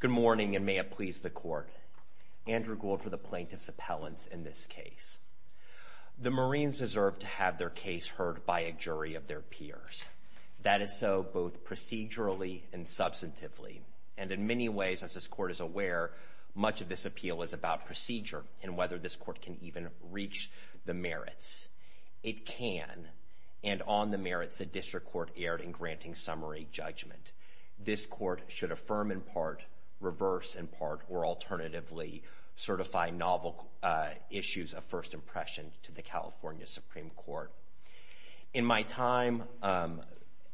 Good morning, and may it please the Court. Andrew Gould for the Plaintiff's Appellants in this case. The Marines deserve to have their case heard by a jury of their peers. That is so both procedurally and substantively, and in many ways, as this Court is aware, much of this appeal is about procedure and whether this Court can even reach the merits. It can, and on the merits the District Court erred in granting summary judgment. This Court should affirm, in part, reverse, in part, or alternatively, certify novel issues of first impression to the California Supreme Court. In my time,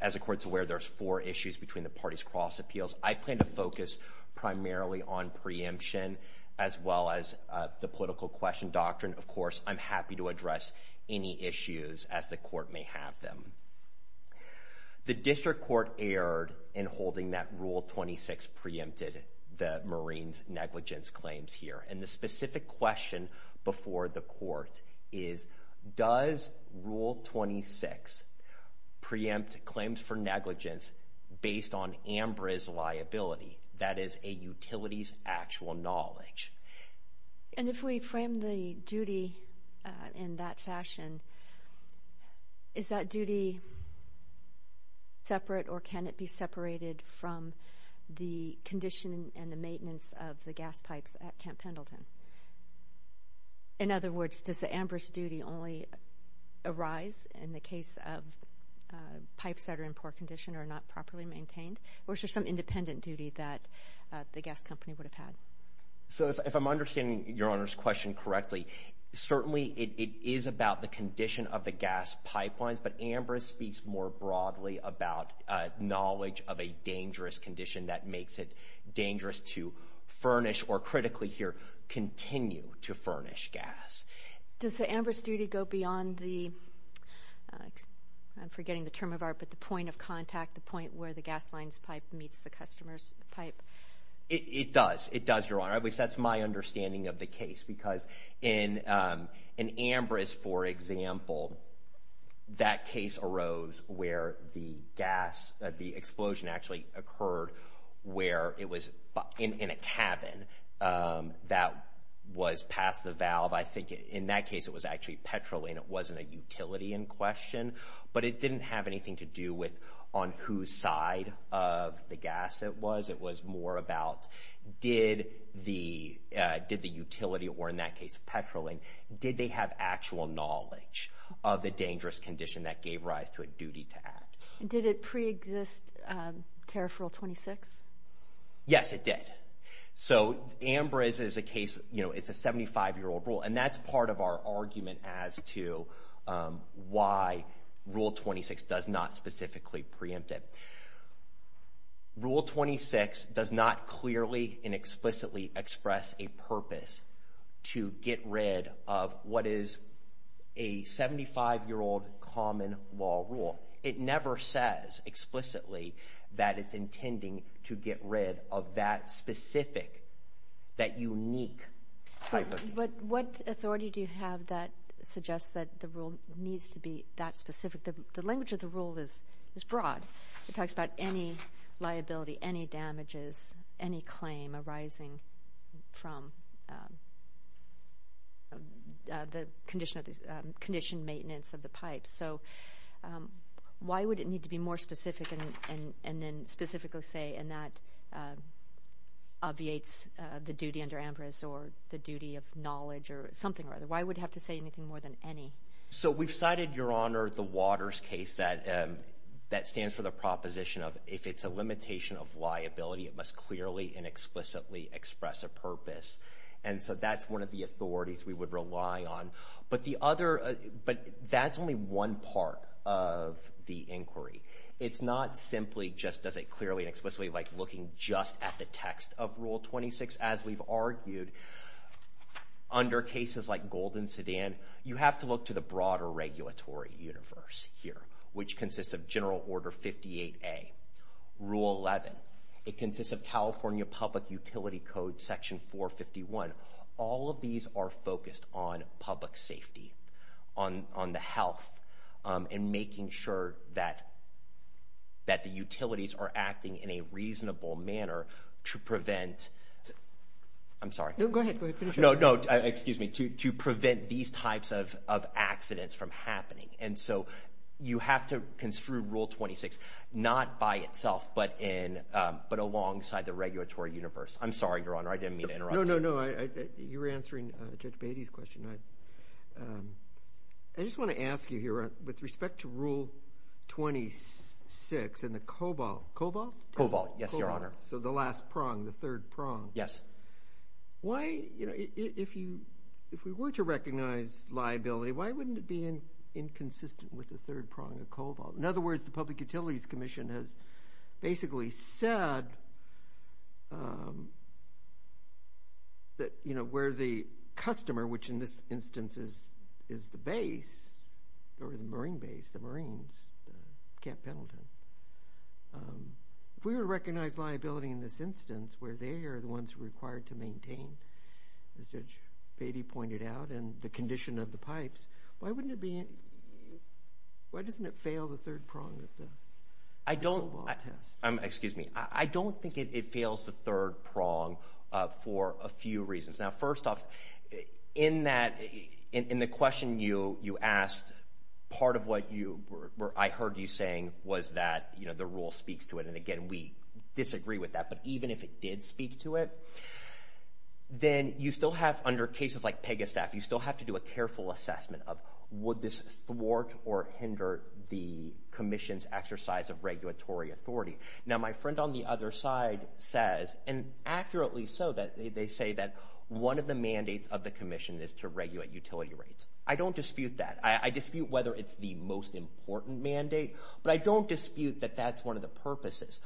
as the Court's aware, there's four issues between the parties' cross appeals. I plan to focus primarily on preemption as well as the political question doctrine. Of course, I'm happy to address any issues as the Court may have them. The District Court erred in holding that Rule 26 preempted the Marines' negligence claims here, and the specific question before the Court is, does Rule 26 preempt claims for negligence based on AMBRA's liability, that is, a utility's actual knowledge? And if we frame the duty in that fashion, is that duty separate or can it be separated from the condition and the maintenance of the gas pipes at Camp Pendleton? In other words, does the AMBRA's duty only arise in the case of pipes that are in poor condition or not properly maintained, or is there some independent duty that the gas company would have had? So if I'm understanding Your Honor's question correctly, certainly it is about the condition of the gas pipelines, but AMBRA speaks more broadly about knowledge of a dangerous condition that makes it dangerous to furnish or, critically here, continue to furnish gas. Does the AMBRA's duty go beyond the, I'm forgetting the term of art, but the point of contact, the point where the gas line's pipe meets the customer's pipe? It does. It does, Your Honor. At least that's my understanding of the case, because in AMBRA's, for example, that case arose where the gas, the explosion actually occurred where it was in a cabin that was past the valve. I think in that case it was actually petrol and it wasn't a utility in question, but it didn't have anything to do with on whose side of the gas it was. It was more about did the utility, or in that case petrol, and did they have actual knowledge of the dangerous condition that gave rise to a duty to act? Did it preexist Tariff Rule 26? Yes, it did. So AMBRA is a case, you know, it's a 75-year-old rule, and that's part of our argument as to why Rule 26 does not specifically preempt it. Rule 26 does not clearly and explicitly express a purpose to get rid of what is a 75-year-old common law rule. It never says explicitly that it's intending to get rid of that specific, that unique type of duty. But what authority do you have that suggests that the rule needs to be that specific? The language of the rule is broad. It talks about any liability, any damages, any claim arising from the conditioned maintenance of the pipe. So why would it need to be more specific and then specifically say, and that obviates the duty under AMBRAS or the duty of knowledge or something or other? Why would it have to say anything more than any? So we've cited, Your Honor, the Waters case that stands for the proposition of if it's a limitation of liability, it must clearly and explicitly express a purpose. And so that's one of the authorities we would rely on. But that's only one part of the inquiry. It's not simply just does it clearly and explicitly like looking just at the text of Rule 26. As we've argued, under cases like Golden Sedan, you have to look to the broader regulatory universe here, which consists of General Order 58A, Rule 11. It consists of California Public Utility Code, Section 451. All of these are focused on public safety, on the health, and making sure that the utilities are acting in a reasonable manner to prevent. I'm sorry. No, go ahead. No, no. Excuse me. To prevent these types of accidents from happening. And so you have to construe Rule 26 not by itself but alongside the regulatory universe. I'm sorry, Your Honor. I didn't mean to interrupt you. No, no, no. You're answering Judge Beatty's question. I just want to ask you here with respect to Rule 26 and the COBOL. COBOL? COBOL, yes, Your Honor. So the last prong, the third prong. Yes. Why, you know, if we were to recognize liability, why wouldn't it be inconsistent with the third prong of COBOL? In other words, the Public Utilities Commission has basically said that, you know, where the customer, which in this instance is the base or the Marine base, the Marines, Cap Pendleton. If we were to recognize liability in this instance where they are the ones required to maintain, as Judge Beatty pointed out, and the condition of the pipes, why doesn't it fail the third prong of the COBOL test? Excuse me. I don't think it fails the third prong for a few reasons. Now, first off, in the question you asked, part of what I heard you saying was that, you know, the rule speaks to it. And, again, we disagree with that. But even if it did speak to it, then you still have, under cases like Pegastaff, you still have to do a careful assessment of would this thwart or hinder the commission's exercise of regulatory authority. Now, my friend on the other side says, and accurately so, that they say that one of the mandates of the commission is to regulate utility rates. I don't dispute that. I dispute whether it's the most important mandate. But I don't dispute that that's one of the purposes.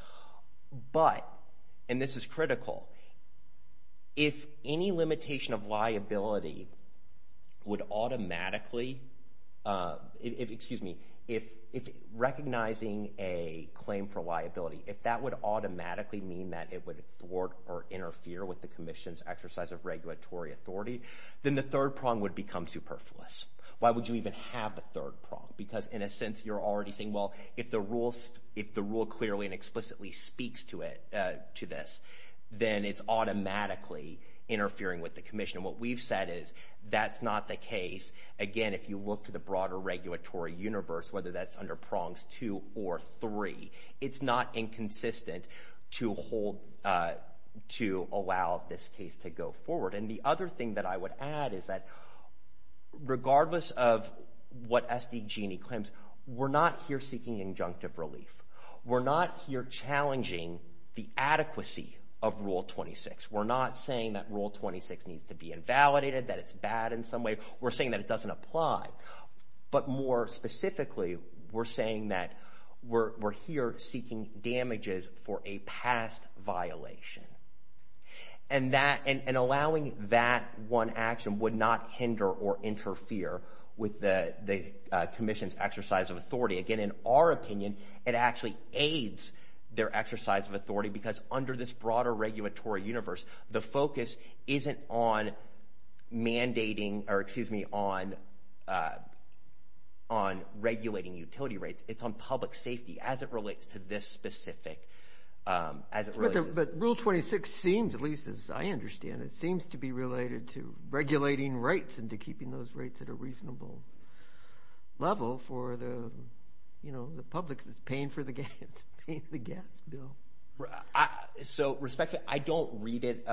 But, and this is critical, if any limitation of liability would automatically, excuse me, if recognizing a claim for liability, if that would automatically mean that it would thwart or interfere with the commission's exercise of regulatory authority, then the third prong would become superfluous. Why would you even have the third prong? Because, in a sense, you're already saying, well, if the rule clearly and explicitly speaks to it, to this, then it's automatically interfering with the commission. What we've said is that's not the case. Again, if you look to the broader regulatory universe, whether that's under prongs two or three, it's not inconsistent to hold, to allow this case to go forward. And the other thing that I would add is that regardless of what SDG&E claims, we're not here seeking injunctive relief. We're not here challenging the adequacy of Rule 26. We're not saying that Rule 26 needs to be invalidated, that it's bad in some way. We're saying that it doesn't apply. But more specifically, we're saying that we're here seeking damages for a past violation. And allowing that one action would not hinder or interfere with the commission's exercise of authority. Again, in our opinion, it actually aids their exercise of authority because under this broader regulatory universe, the focus isn't on mandating or, excuse me, on regulating utility rates. It's on public safety as it relates to this specific— But Rule 26 seems, at least as I understand it, seems to be related to regulating rights and to keeping those rates at a reasonable level for the public that's paying for the gas bill. So, respectfully, I don't read it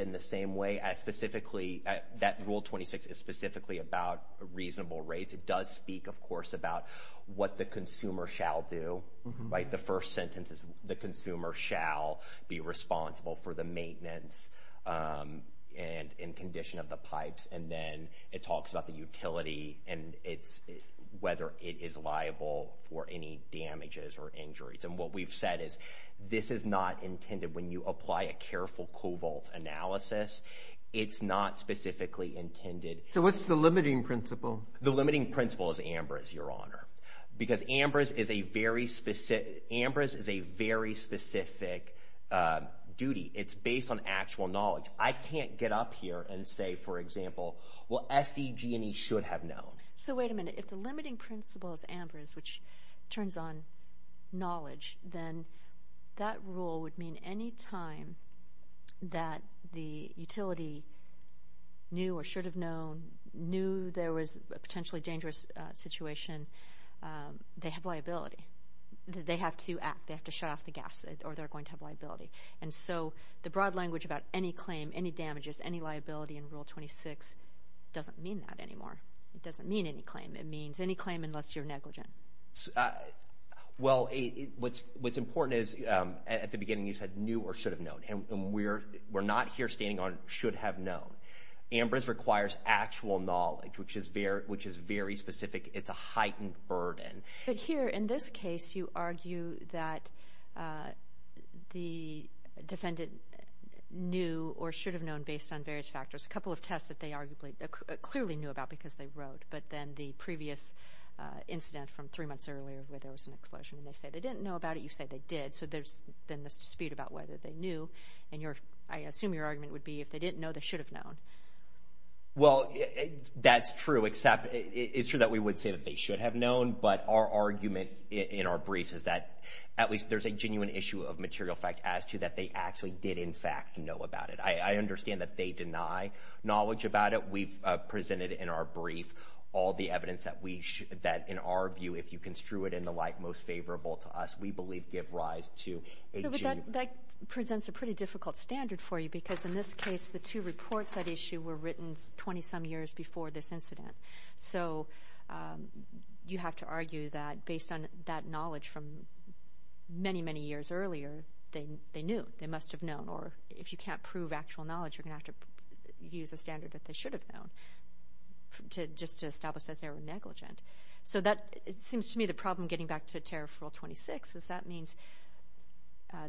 in the same way as specifically that Rule 26 is specifically about reasonable rates. It does speak, of course, about what the consumer shall do. Right? The first sentence is the consumer shall be responsible for the maintenance and condition of the pipes. And then it talks about the utility and whether it is liable for any damages or injuries. And what we've said is this is not intended. When you apply a careful covalt analysis, it's not specifically intended. So what's the limiting principle? The limiting principle is AMBRS, Your Honor. Because AMBRS is a very specific duty. It's based on actual knowledge. I can't get up here and say, for example, well, SDG&E should have known. So wait a minute. If the limiting principle is AMBRS, which turns on knowledge, then that rule would mean any time that the utility knew or should have known, knew there was a potentially dangerous situation, they have liability. They have to act. They have to shut off the gas or they're going to have liability. And so the broad language about any claim, any damages, any liability in Rule 26 doesn't mean that anymore. It doesn't mean any claim. It means any claim unless you're negligent. Well, what's important is at the beginning you said knew or should have known. And we're not here standing on should have known. AMBRS requires actual knowledge, which is very specific. It's a heightened burden. But here in this case you argue that the defendant knew or should have known based on various factors, a couple of tests that they arguably clearly knew about because they wrote, but then the previous incident from three months earlier where there was an explosion and they say they didn't know about it, you say they did. So there's then this dispute about whether they knew. And I assume your argument would be if they didn't know, they should have known. Well, that's true, except it's true that we would say that they should have known, but our argument in our briefs is that at least there's a genuine issue of material fact as to that they actually did, in fact, know about it. I understand that they deny knowledge about it. We've presented in our brief all the evidence that, in our view, if you construe it in the light most favorable to us, we believe give rise to a genuine. But that presents a pretty difficult standard for you because, in this case, the two reports at issue were written 20-some years before this incident. So you have to argue that based on that knowledge from many, many years earlier, they knew, they must have known, or if you can't prove actual knowledge, you're going to have to use a standard that they should have known just to establish that they were negligent. So that seems to me the problem getting back to Tariff Rule 26 is that means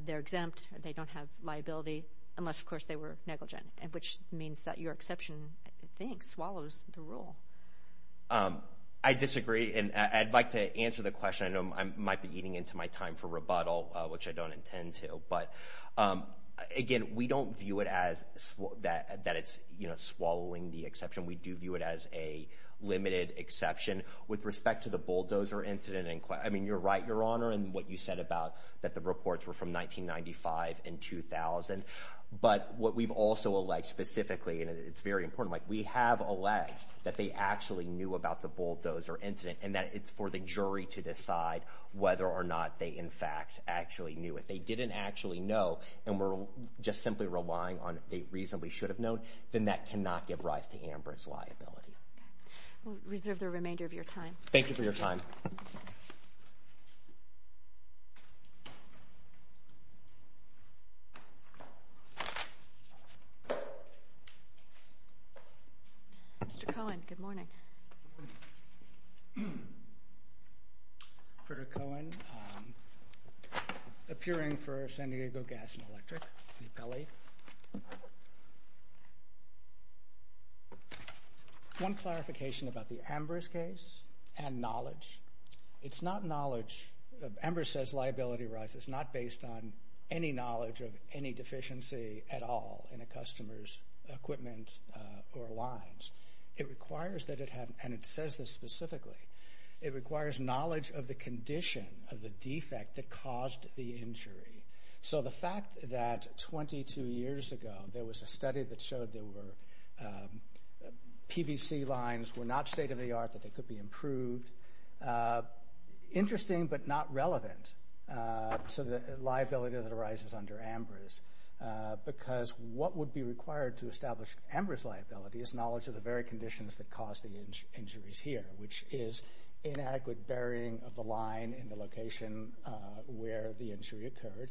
they're exempt, they don't have liability, unless, of course, they were negligent, which means that your exception, I think, swallows the rule. I disagree, and I'd like to answer the question. I know I might be eating into my time for rebuttal, which I don't intend to. But, again, we don't view it as that it's swallowing the exception. We do view it as a limited exception. With respect to the bulldozer incident, I mean, you're right, Your Honor, in what you said about that the reports were from 1995 and 2000. But what we've also alleged specifically, and it's very important, we have alleged that they actually knew about the bulldozer incident and that it's for the jury to decide whether or not they, in fact, actually knew. If they didn't actually know and were just simply relying on they reasonably should have known, then that cannot give rise to Amber's liability. Okay. We'll reserve the remainder of your time. Thank you for your time. Mr. Cohen, good morning. Good morning. Frederick Cohen, appearing for San Diego Gas and Electric, the appellee. One clarification about the Amber's case and knowledge. It's not knowledge. Amber says liability arises not based on any knowledge of any deficiency at all in a customer's equipment or lines. It requires that it have, and it says this specifically, it requires knowledge of the condition of the defect that caused the injury. So the fact that 22 years ago there was a study that showed there were PVC lines were not state-of-the-art, that they could be improved, interesting but not relevant to the liability that arises under Amber's because what would be required to establish Amber's liability is knowledge of the very conditions that caused the injuries here, which is inadequate burying of the line in the location where the injury occurred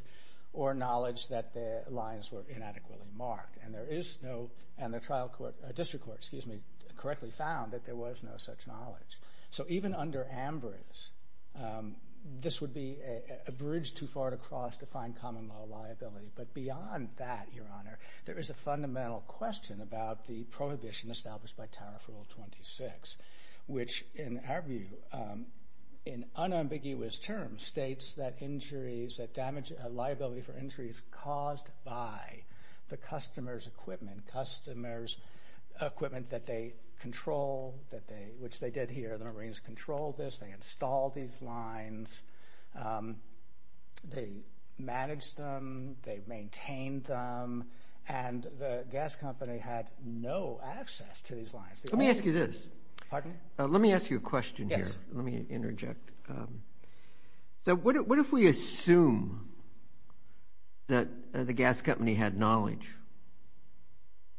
or knowledge that the lines were inadequately marked. And there is no, and the trial court, district court, excuse me, correctly found that there was no such knowledge. So even under Amber's, this would be a bridge too far to cross to find common law liability. But beyond that, Your Honor, there is a fundamental question about the prohibition established by Tariff Rule 26, which in our view, in unambiguous terms, states that injuries, that liability for injuries caused by the customer's equipment, customer's equipment that they control, which they did here. The Marines controlled this. They installed these lines. They managed them. They maintained them. And the gas company had no access to these lines. Let me ask you this. Pardon me? Let me ask you a question here. Yes. Let me interject. So what if we assume that the gas company had knowledge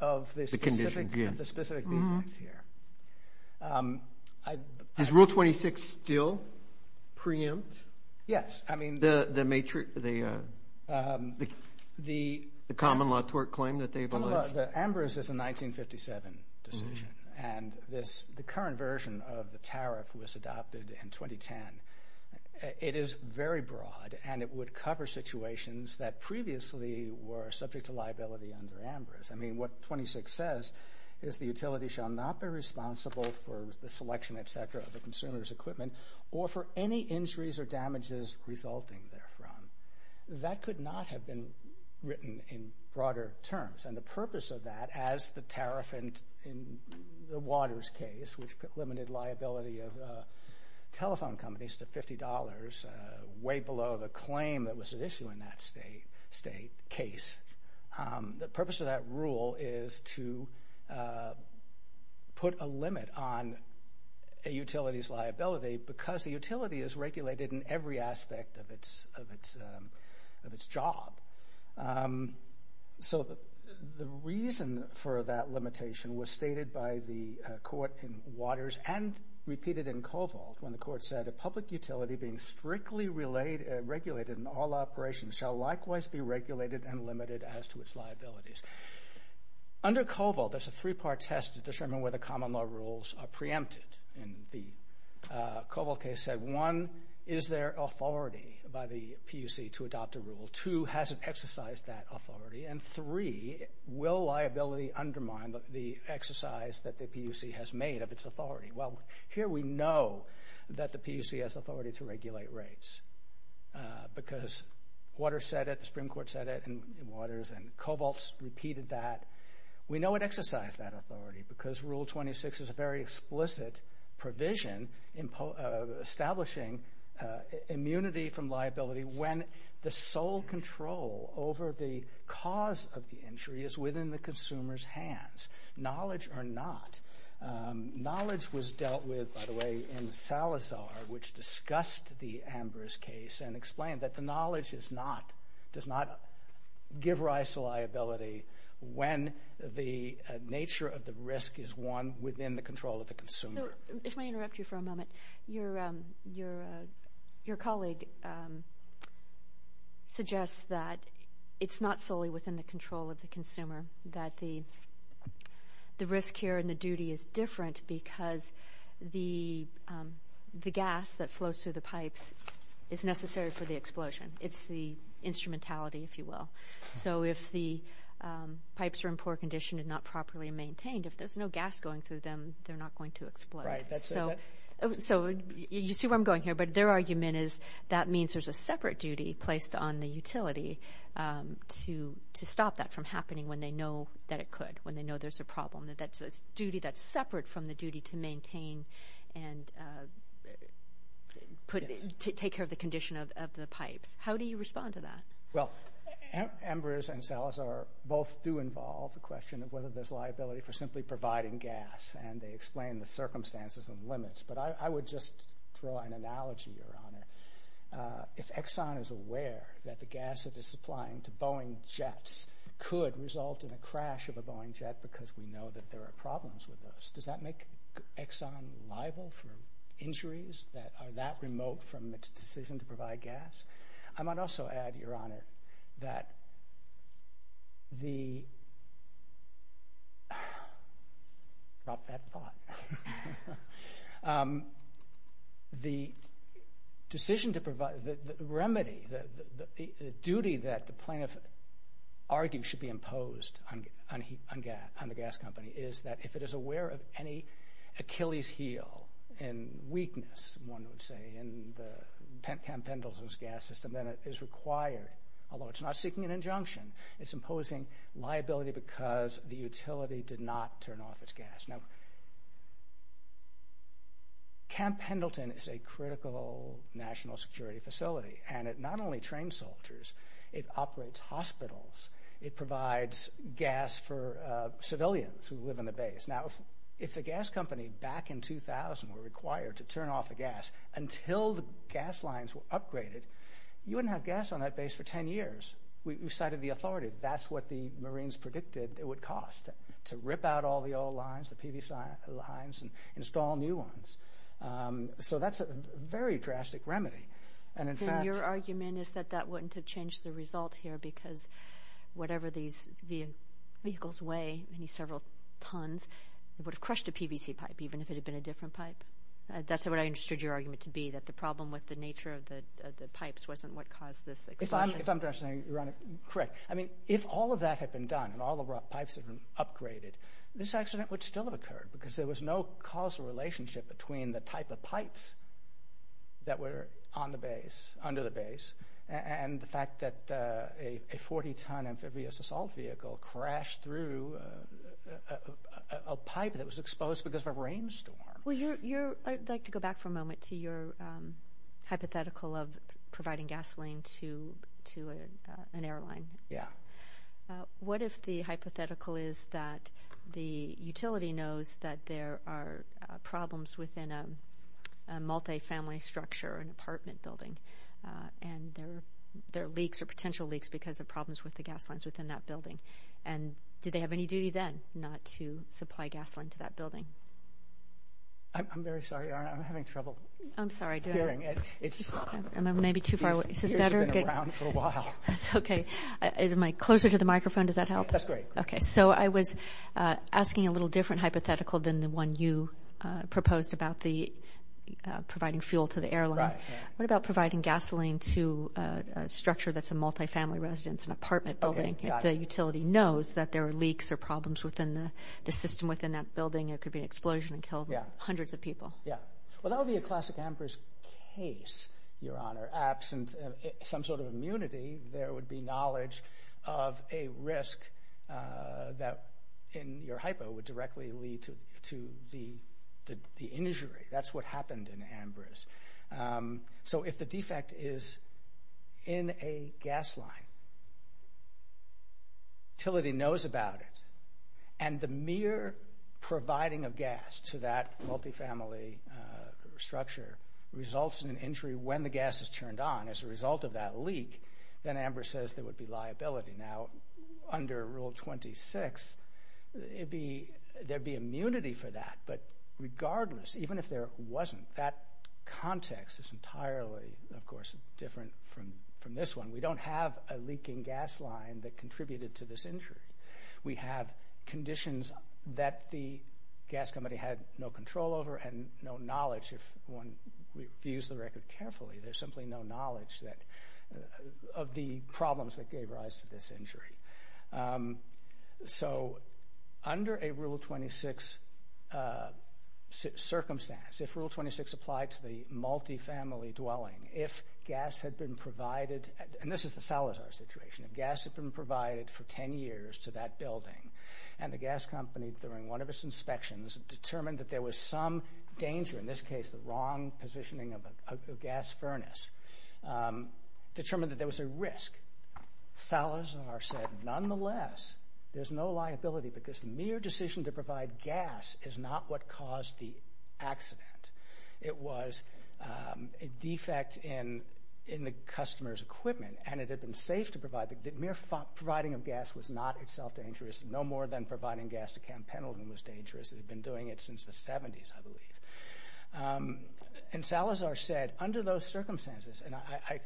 of the conditions here? Of the specific defects here. Is Rule 26 still preempt? Yes. The common law tort claim that they've alleged? Amber's is a 1957 decision, and the current version of the tariff was adopted in 2010. It is very broad, and it would cover situations that previously were subject to liability under Amber's. I mean, what 26 says is the utility shall not be responsible for the selection, et cetera, of the consumer's equipment, or for any injuries or damages resulting therefrom. That could not have been written in broader terms. And the purpose of that, as the tariff in the Waters case, which limited liability of telephone companies to $50, way below the claim that was at issue in that state case, the purpose of that rule is to put a limit on a utility's liability because the utility is regulated in every aspect of its job. So the reason for that limitation was stated by the court in Waters and repeated in Covalt when the court said, public utility being strictly regulated in all operations shall likewise be regulated and limited as to its liabilities. Under Covalt, there's a three-part test to determine whether common law rules are preempted in the Covalt case. One, is there authority by the PUC to adopt a rule? Two, has it exercised that authority? And three, will liability undermine the exercise that the PUC has made of its authority? Well, here we know that the PUC has authority to regulate rates because Waters said it, the Supreme Court said it, and Waters and Covalt repeated that. We know it exercised that authority because Rule 26 is a very explicit provision establishing immunity from liability when the sole control over the cause of the injury is within the consumer's hands, knowledge or not. Knowledge was dealt with, by the way, in Salazar, which discussed the Ambrose case and explained that the knowledge does not give rise to liability when the nature of the risk is one within the control of the consumer. If I interrupt you for a moment, your colleague suggests that it's not solely within the control of the consumer, that the risk here and the duty is different because the gas that flows through the pipes is necessary for the explosion. It's the instrumentality, if you will. So if the pipes are in poor condition and not properly maintained, if there's no gas going through them, they're not going to explode. So you see where I'm going here, but their argument is that means there's a separate duty placed on the utility to stop that from happening when they know that it could, when they know there's a problem. That's a duty that's separate from the duty to maintain and take care of the condition of the pipes. How do you respond to that? Well, Ambrose and Salazar both do involve the question of whether there's liability for simply providing gas, and they explain the circumstances and limits. But I would just draw an analogy, Your Honour. If Exxon is aware that the gas it is supplying to Boeing jets could result in a crash of a Boeing jet because we know that there are problems with those, does that make Exxon liable for injuries that are that remote from its decision to provide gas? I might also add, Your Honour, that the... Drop that thought. The decision to provide, the remedy, the duty that the plaintiff argues should be imposed on the gas company is that if it is aware of any Achilles' heel and weakness, one would say, in the Pentcam Pendleton's gas system, then it is required, although it's not seeking an injunction, it's imposing liability because the utility did not turn off its gas. Now... Camp Pendleton is a critical national security facility, and it not only trains soldiers, it operates hospitals, it provides gas for civilians who live in the base. Now, if the gas company, back in 2000, were required to turn off the gas until the gas lines were upgraded, you wouldn't have gas on that base for 10 years. We've cited the authority. That's what the Marines predicted it would cost, to rip out all the old lines, the PVC lines, and install new ones. So that's a very drastic remedy. And in fact... So your argument is that that wouldn't have changed the result here because whatever these vehicles weigh, many several tons, it would have crushed a PVC pipe, even if it had been a different pipe? That's what I understood your argument to be, that the problem with the nature of the pipes wasn't what caused this explosion. If I'm understanding, Your Honour, correct. I mean, if all of that had been done, and all the pipes had been upgraded, this accident would still have occurred because there was no causal relationship between the type of pipes that were on the base, under the base, and the fact that a 40-ton amphibious assault vehicle crashed through a pipe that was exposed because of a rainstorm. Well, I'd like to go back for a moment to your hypothetical of providing gasoline to an airline. Yeah. What if the hypothetical is that the utility knows that there are problems within a multifamily structure, an apartment building, and there are leaks or potential leaks because of problems with the gas lines within that building? And do they have any duty then not to supply gasoline to that building? I'm very sorry, Your Honour. I'm having trouble hearing. I'm sorry, do I? I may be too far away. Is this better? You should have been around for a while. That's okay. Am I closer to the microphone? Does that help? That's great. Okay, so I was asking a little different hypothetical than the one you proposed about providing fuel to the airline. Right. What about providing gasoline to a structure that's a multifamily residence, an apartment building, if the utility knows that there are leaks or problems within the system within that building? It could be an explosion and kill hundreds of people. Yeah. Well, that would be a classic Ambrose case, Your Honour. Absent some sort of immunity, there would be knowledge of a risk that in your hypo would directly lead to the injury. That's what happened in Ambrose. So if the defect is in a gas line, utility knows about it, and the mere providing of gas to that multifamily structure results in an injury when the gas is turned on as a result of that leak, then Ambrose says there would be liability. Now, under Rule 26, there'd be immunity for that, but regardless, even if there wasn't, that context is entirely, of course, different from this one. We don't have a leaking gas line that contributed to this injury. We have conditions that the gas company had no control over and no knowledge, if one views the record carefully, there's simply no knowledge of the problems that gave rise to this injury. So under a Rule 26 circumstance, if Rule 26 applied to the multifamily dwelling, if gas had been provided, and this is the Salazar situation, if gas had been provided for 10 years to that building and the gas company, during one of its inspections, determined that there was some danger, in this case the wrong positioning of a gas furnace, determined that there was a risk, Salazar said, nonetheless, there's no liability because the mere decision to provide gas is not what caused the accident. It was a defect in the customer's equipment, and it had been safe to provide, the mere providing of gas was not itself dangerous, no more than providing gas to Camp Pendleton was dangerous. They'd been doing it since the 70s, I believe. And Salazar said, under those circumstances, and I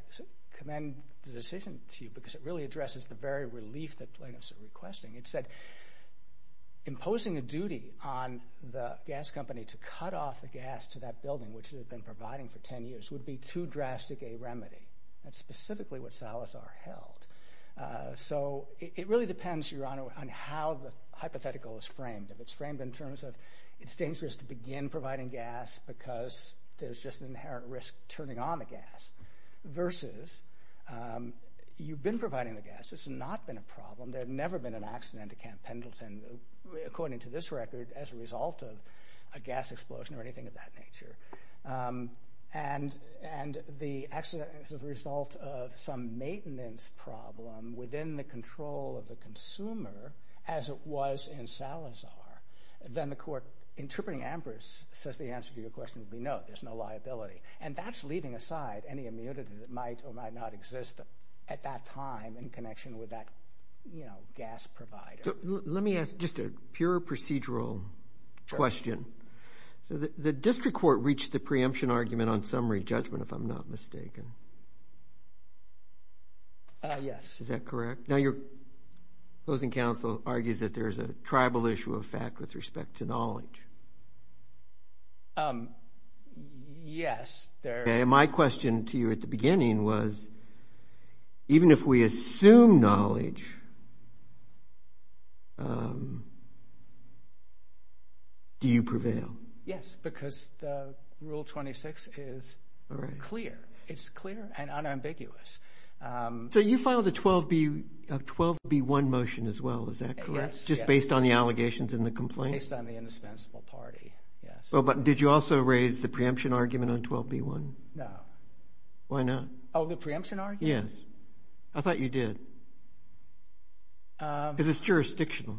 commend the decision to you because it really addresses the very relief that plaintiffs are requesting, it said, imposing a duty on the gas company to cut off the gas to that building, which it had been providing for 10 years, would be too drastic a remedy. That's specifically what Salazar held. So it really depends, Your Honor, on how the hypothetical is framed. If it's framed in terms of, it's dangerous to begin providing gas because there's just an inherent risk turning on the gas, versus you've been providing the gas, it's not been a problem, there had never been an accident at Camp Pendleton, according to this record, as a result of a gas explosion or anything of that nature. And the accident is the result of some maintenance problem within the control of the consumer, as it was in Salazar. Then the court, interpreting Ambrose, says the answer to your question would be no, there's no liability. And that's leaving aside any immunity that might or might not exist at that time in connection with that gas provider. Let me ask just a pure procedural question. The district court reached the preemption argument on summary judgment, if I'm not mistaken. Yes. Is that correct? Now, your opposing counsel argues that there's a tribal issue of fact with respect to knowledge. Yes, there is. My question to you at the beginning was, even if we assume knowledge, do you prevail? Yes, because Rule 26 is clear. It's clear and unambiguous. So you filed a 12B1 motion as well, is that correct? Yes. Just based on the allegations and the complaints? Based on the indispensable party, yes. But did you also raise the preemption argument on 12B1? No. Why not? Oh, the preemption argument? Yes. I thought you did. Because it's jurisdictional.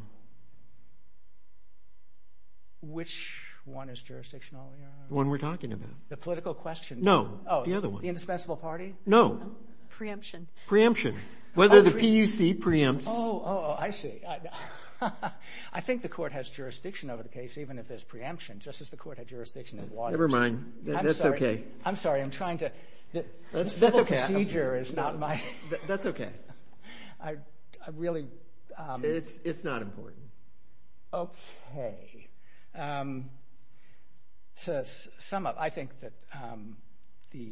Which one is jurisdictional? The one we're talking about. The political question? No, the other one. Oh, the indispensable party? No. Preemption. Preemption. Whether the PUC preempts. Oh, I see. I think the court has jurisdiction over the case, even if there's preemption, just as the court had jurisdiction in Waters. Never mind. That's okay. I'm sorry, I'm trying to... That's okay. The civil procedure is not my... That's okay. I really... It's not important. Okay. To sum up, I think that the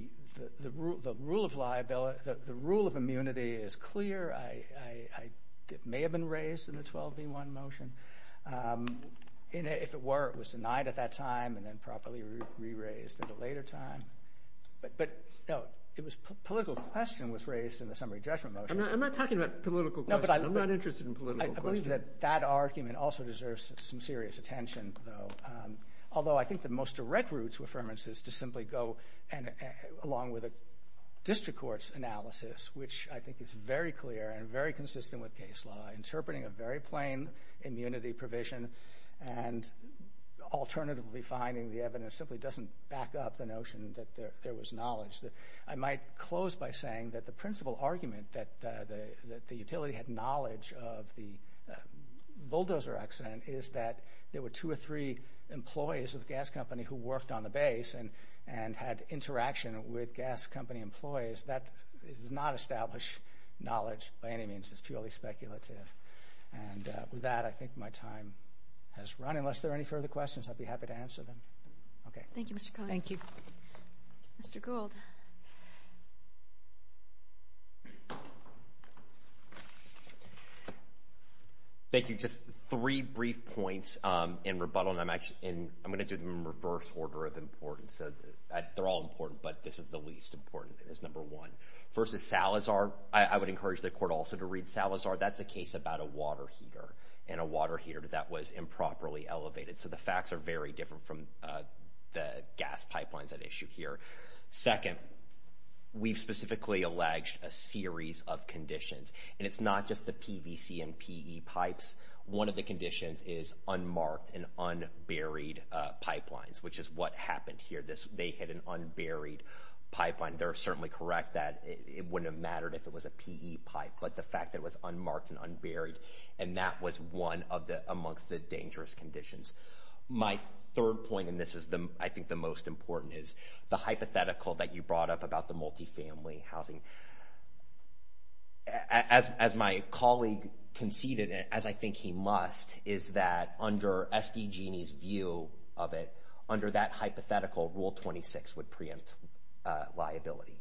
rule of immunity is clear. It may have been raised in the 12B1 motion. If it were, it was denied at that time and then properly re-raised at a later time. Political question was raised in the summary judgment motion. I'm not talking about political question. I'm not interested in political question. I believe that that argument also deserves some serious attention, though. Although I think the most direct route to affirmance is to simply go, along with a district court's analysis, which I think is very clear and very consistent with case law, interpreting a very plain immunity provision and alternatively finding the evidence simply doesn't back up the notion that there was knowledge. I might close by saying that the principal argument that the utility had knowledge of the bulldozer accident is that there were two or three employees of a gas company who worked on the base and had interaction with gas company employees. That does not establish knowledge by any means. It's purely speculative. And with that, I think my time has run. Unless there are any further questions, I'd be happy to answer them. Okay. Thank you, Mr. Connolly. Thank you. Mr. Gould. Thank you. Just three brief points in rebuttal, and I'm going to do them in reverse order of importance. They're all important, but this is the least important. It's number one. First is Salazar. I would encourage the court also to read Salazar. That's a case about a water heater, and a water heater that was improperly elevated. So the facts are very different from the gas pipelines at issue here. Second, we've specifically alleged a series of conditions, and it's not just the PVC and PE pipes. One of the conditions is unmarked and unburied pipelines, which is what happened here. They hit an unburied pipeline. They're certainly correct that it wouldn't have mattered if it was a PE pipe, but the fact that it was unmarked and unburied and that was one amongst the dangerous conditions. My third point, and this is, I think, the most important, is the hypothetical that you brought up about the multifamily housing. As my colleague conceded, and as I think he must, is that under SDG&E's view of it, under that hypothetical, Rule 26 would preempt liability.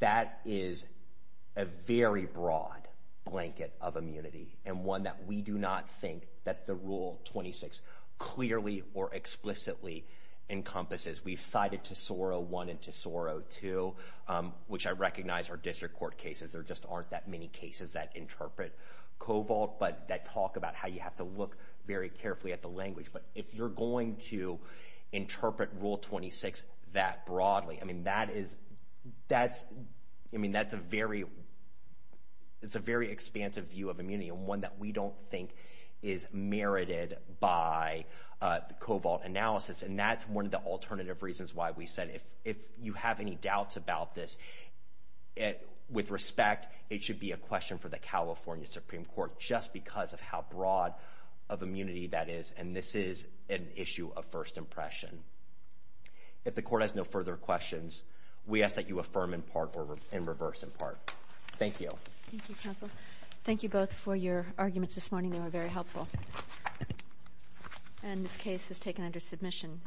That is a very broad blanket of immunity and one that we do not think that the Rule 26 clearly or explicitly encompasses. We've cited Tesoro I and Tesoro II, which I recognize are district court cases. There just aren't that many cases that interpret COVALT, but that talk about how you have to look very carefully at the language. But if you're going to interpret Rule 26 that broadly, I mean, that's a very expansive view of immunity and one that we don't think is merited by the COVALT analysis, and that's one of the alternative reasons why we said if you have any doubts about this, with respect, it should be a question for the California Supreme Court just because of how broad of immunity that is, and this is an issue of first impression. If the court has no further questions, we ask that you affirm in part or in reverse in part. Thank you. Thank you, counsel. Thank you both for your arguments this morning. They were very helpful. And this case is taken under submission.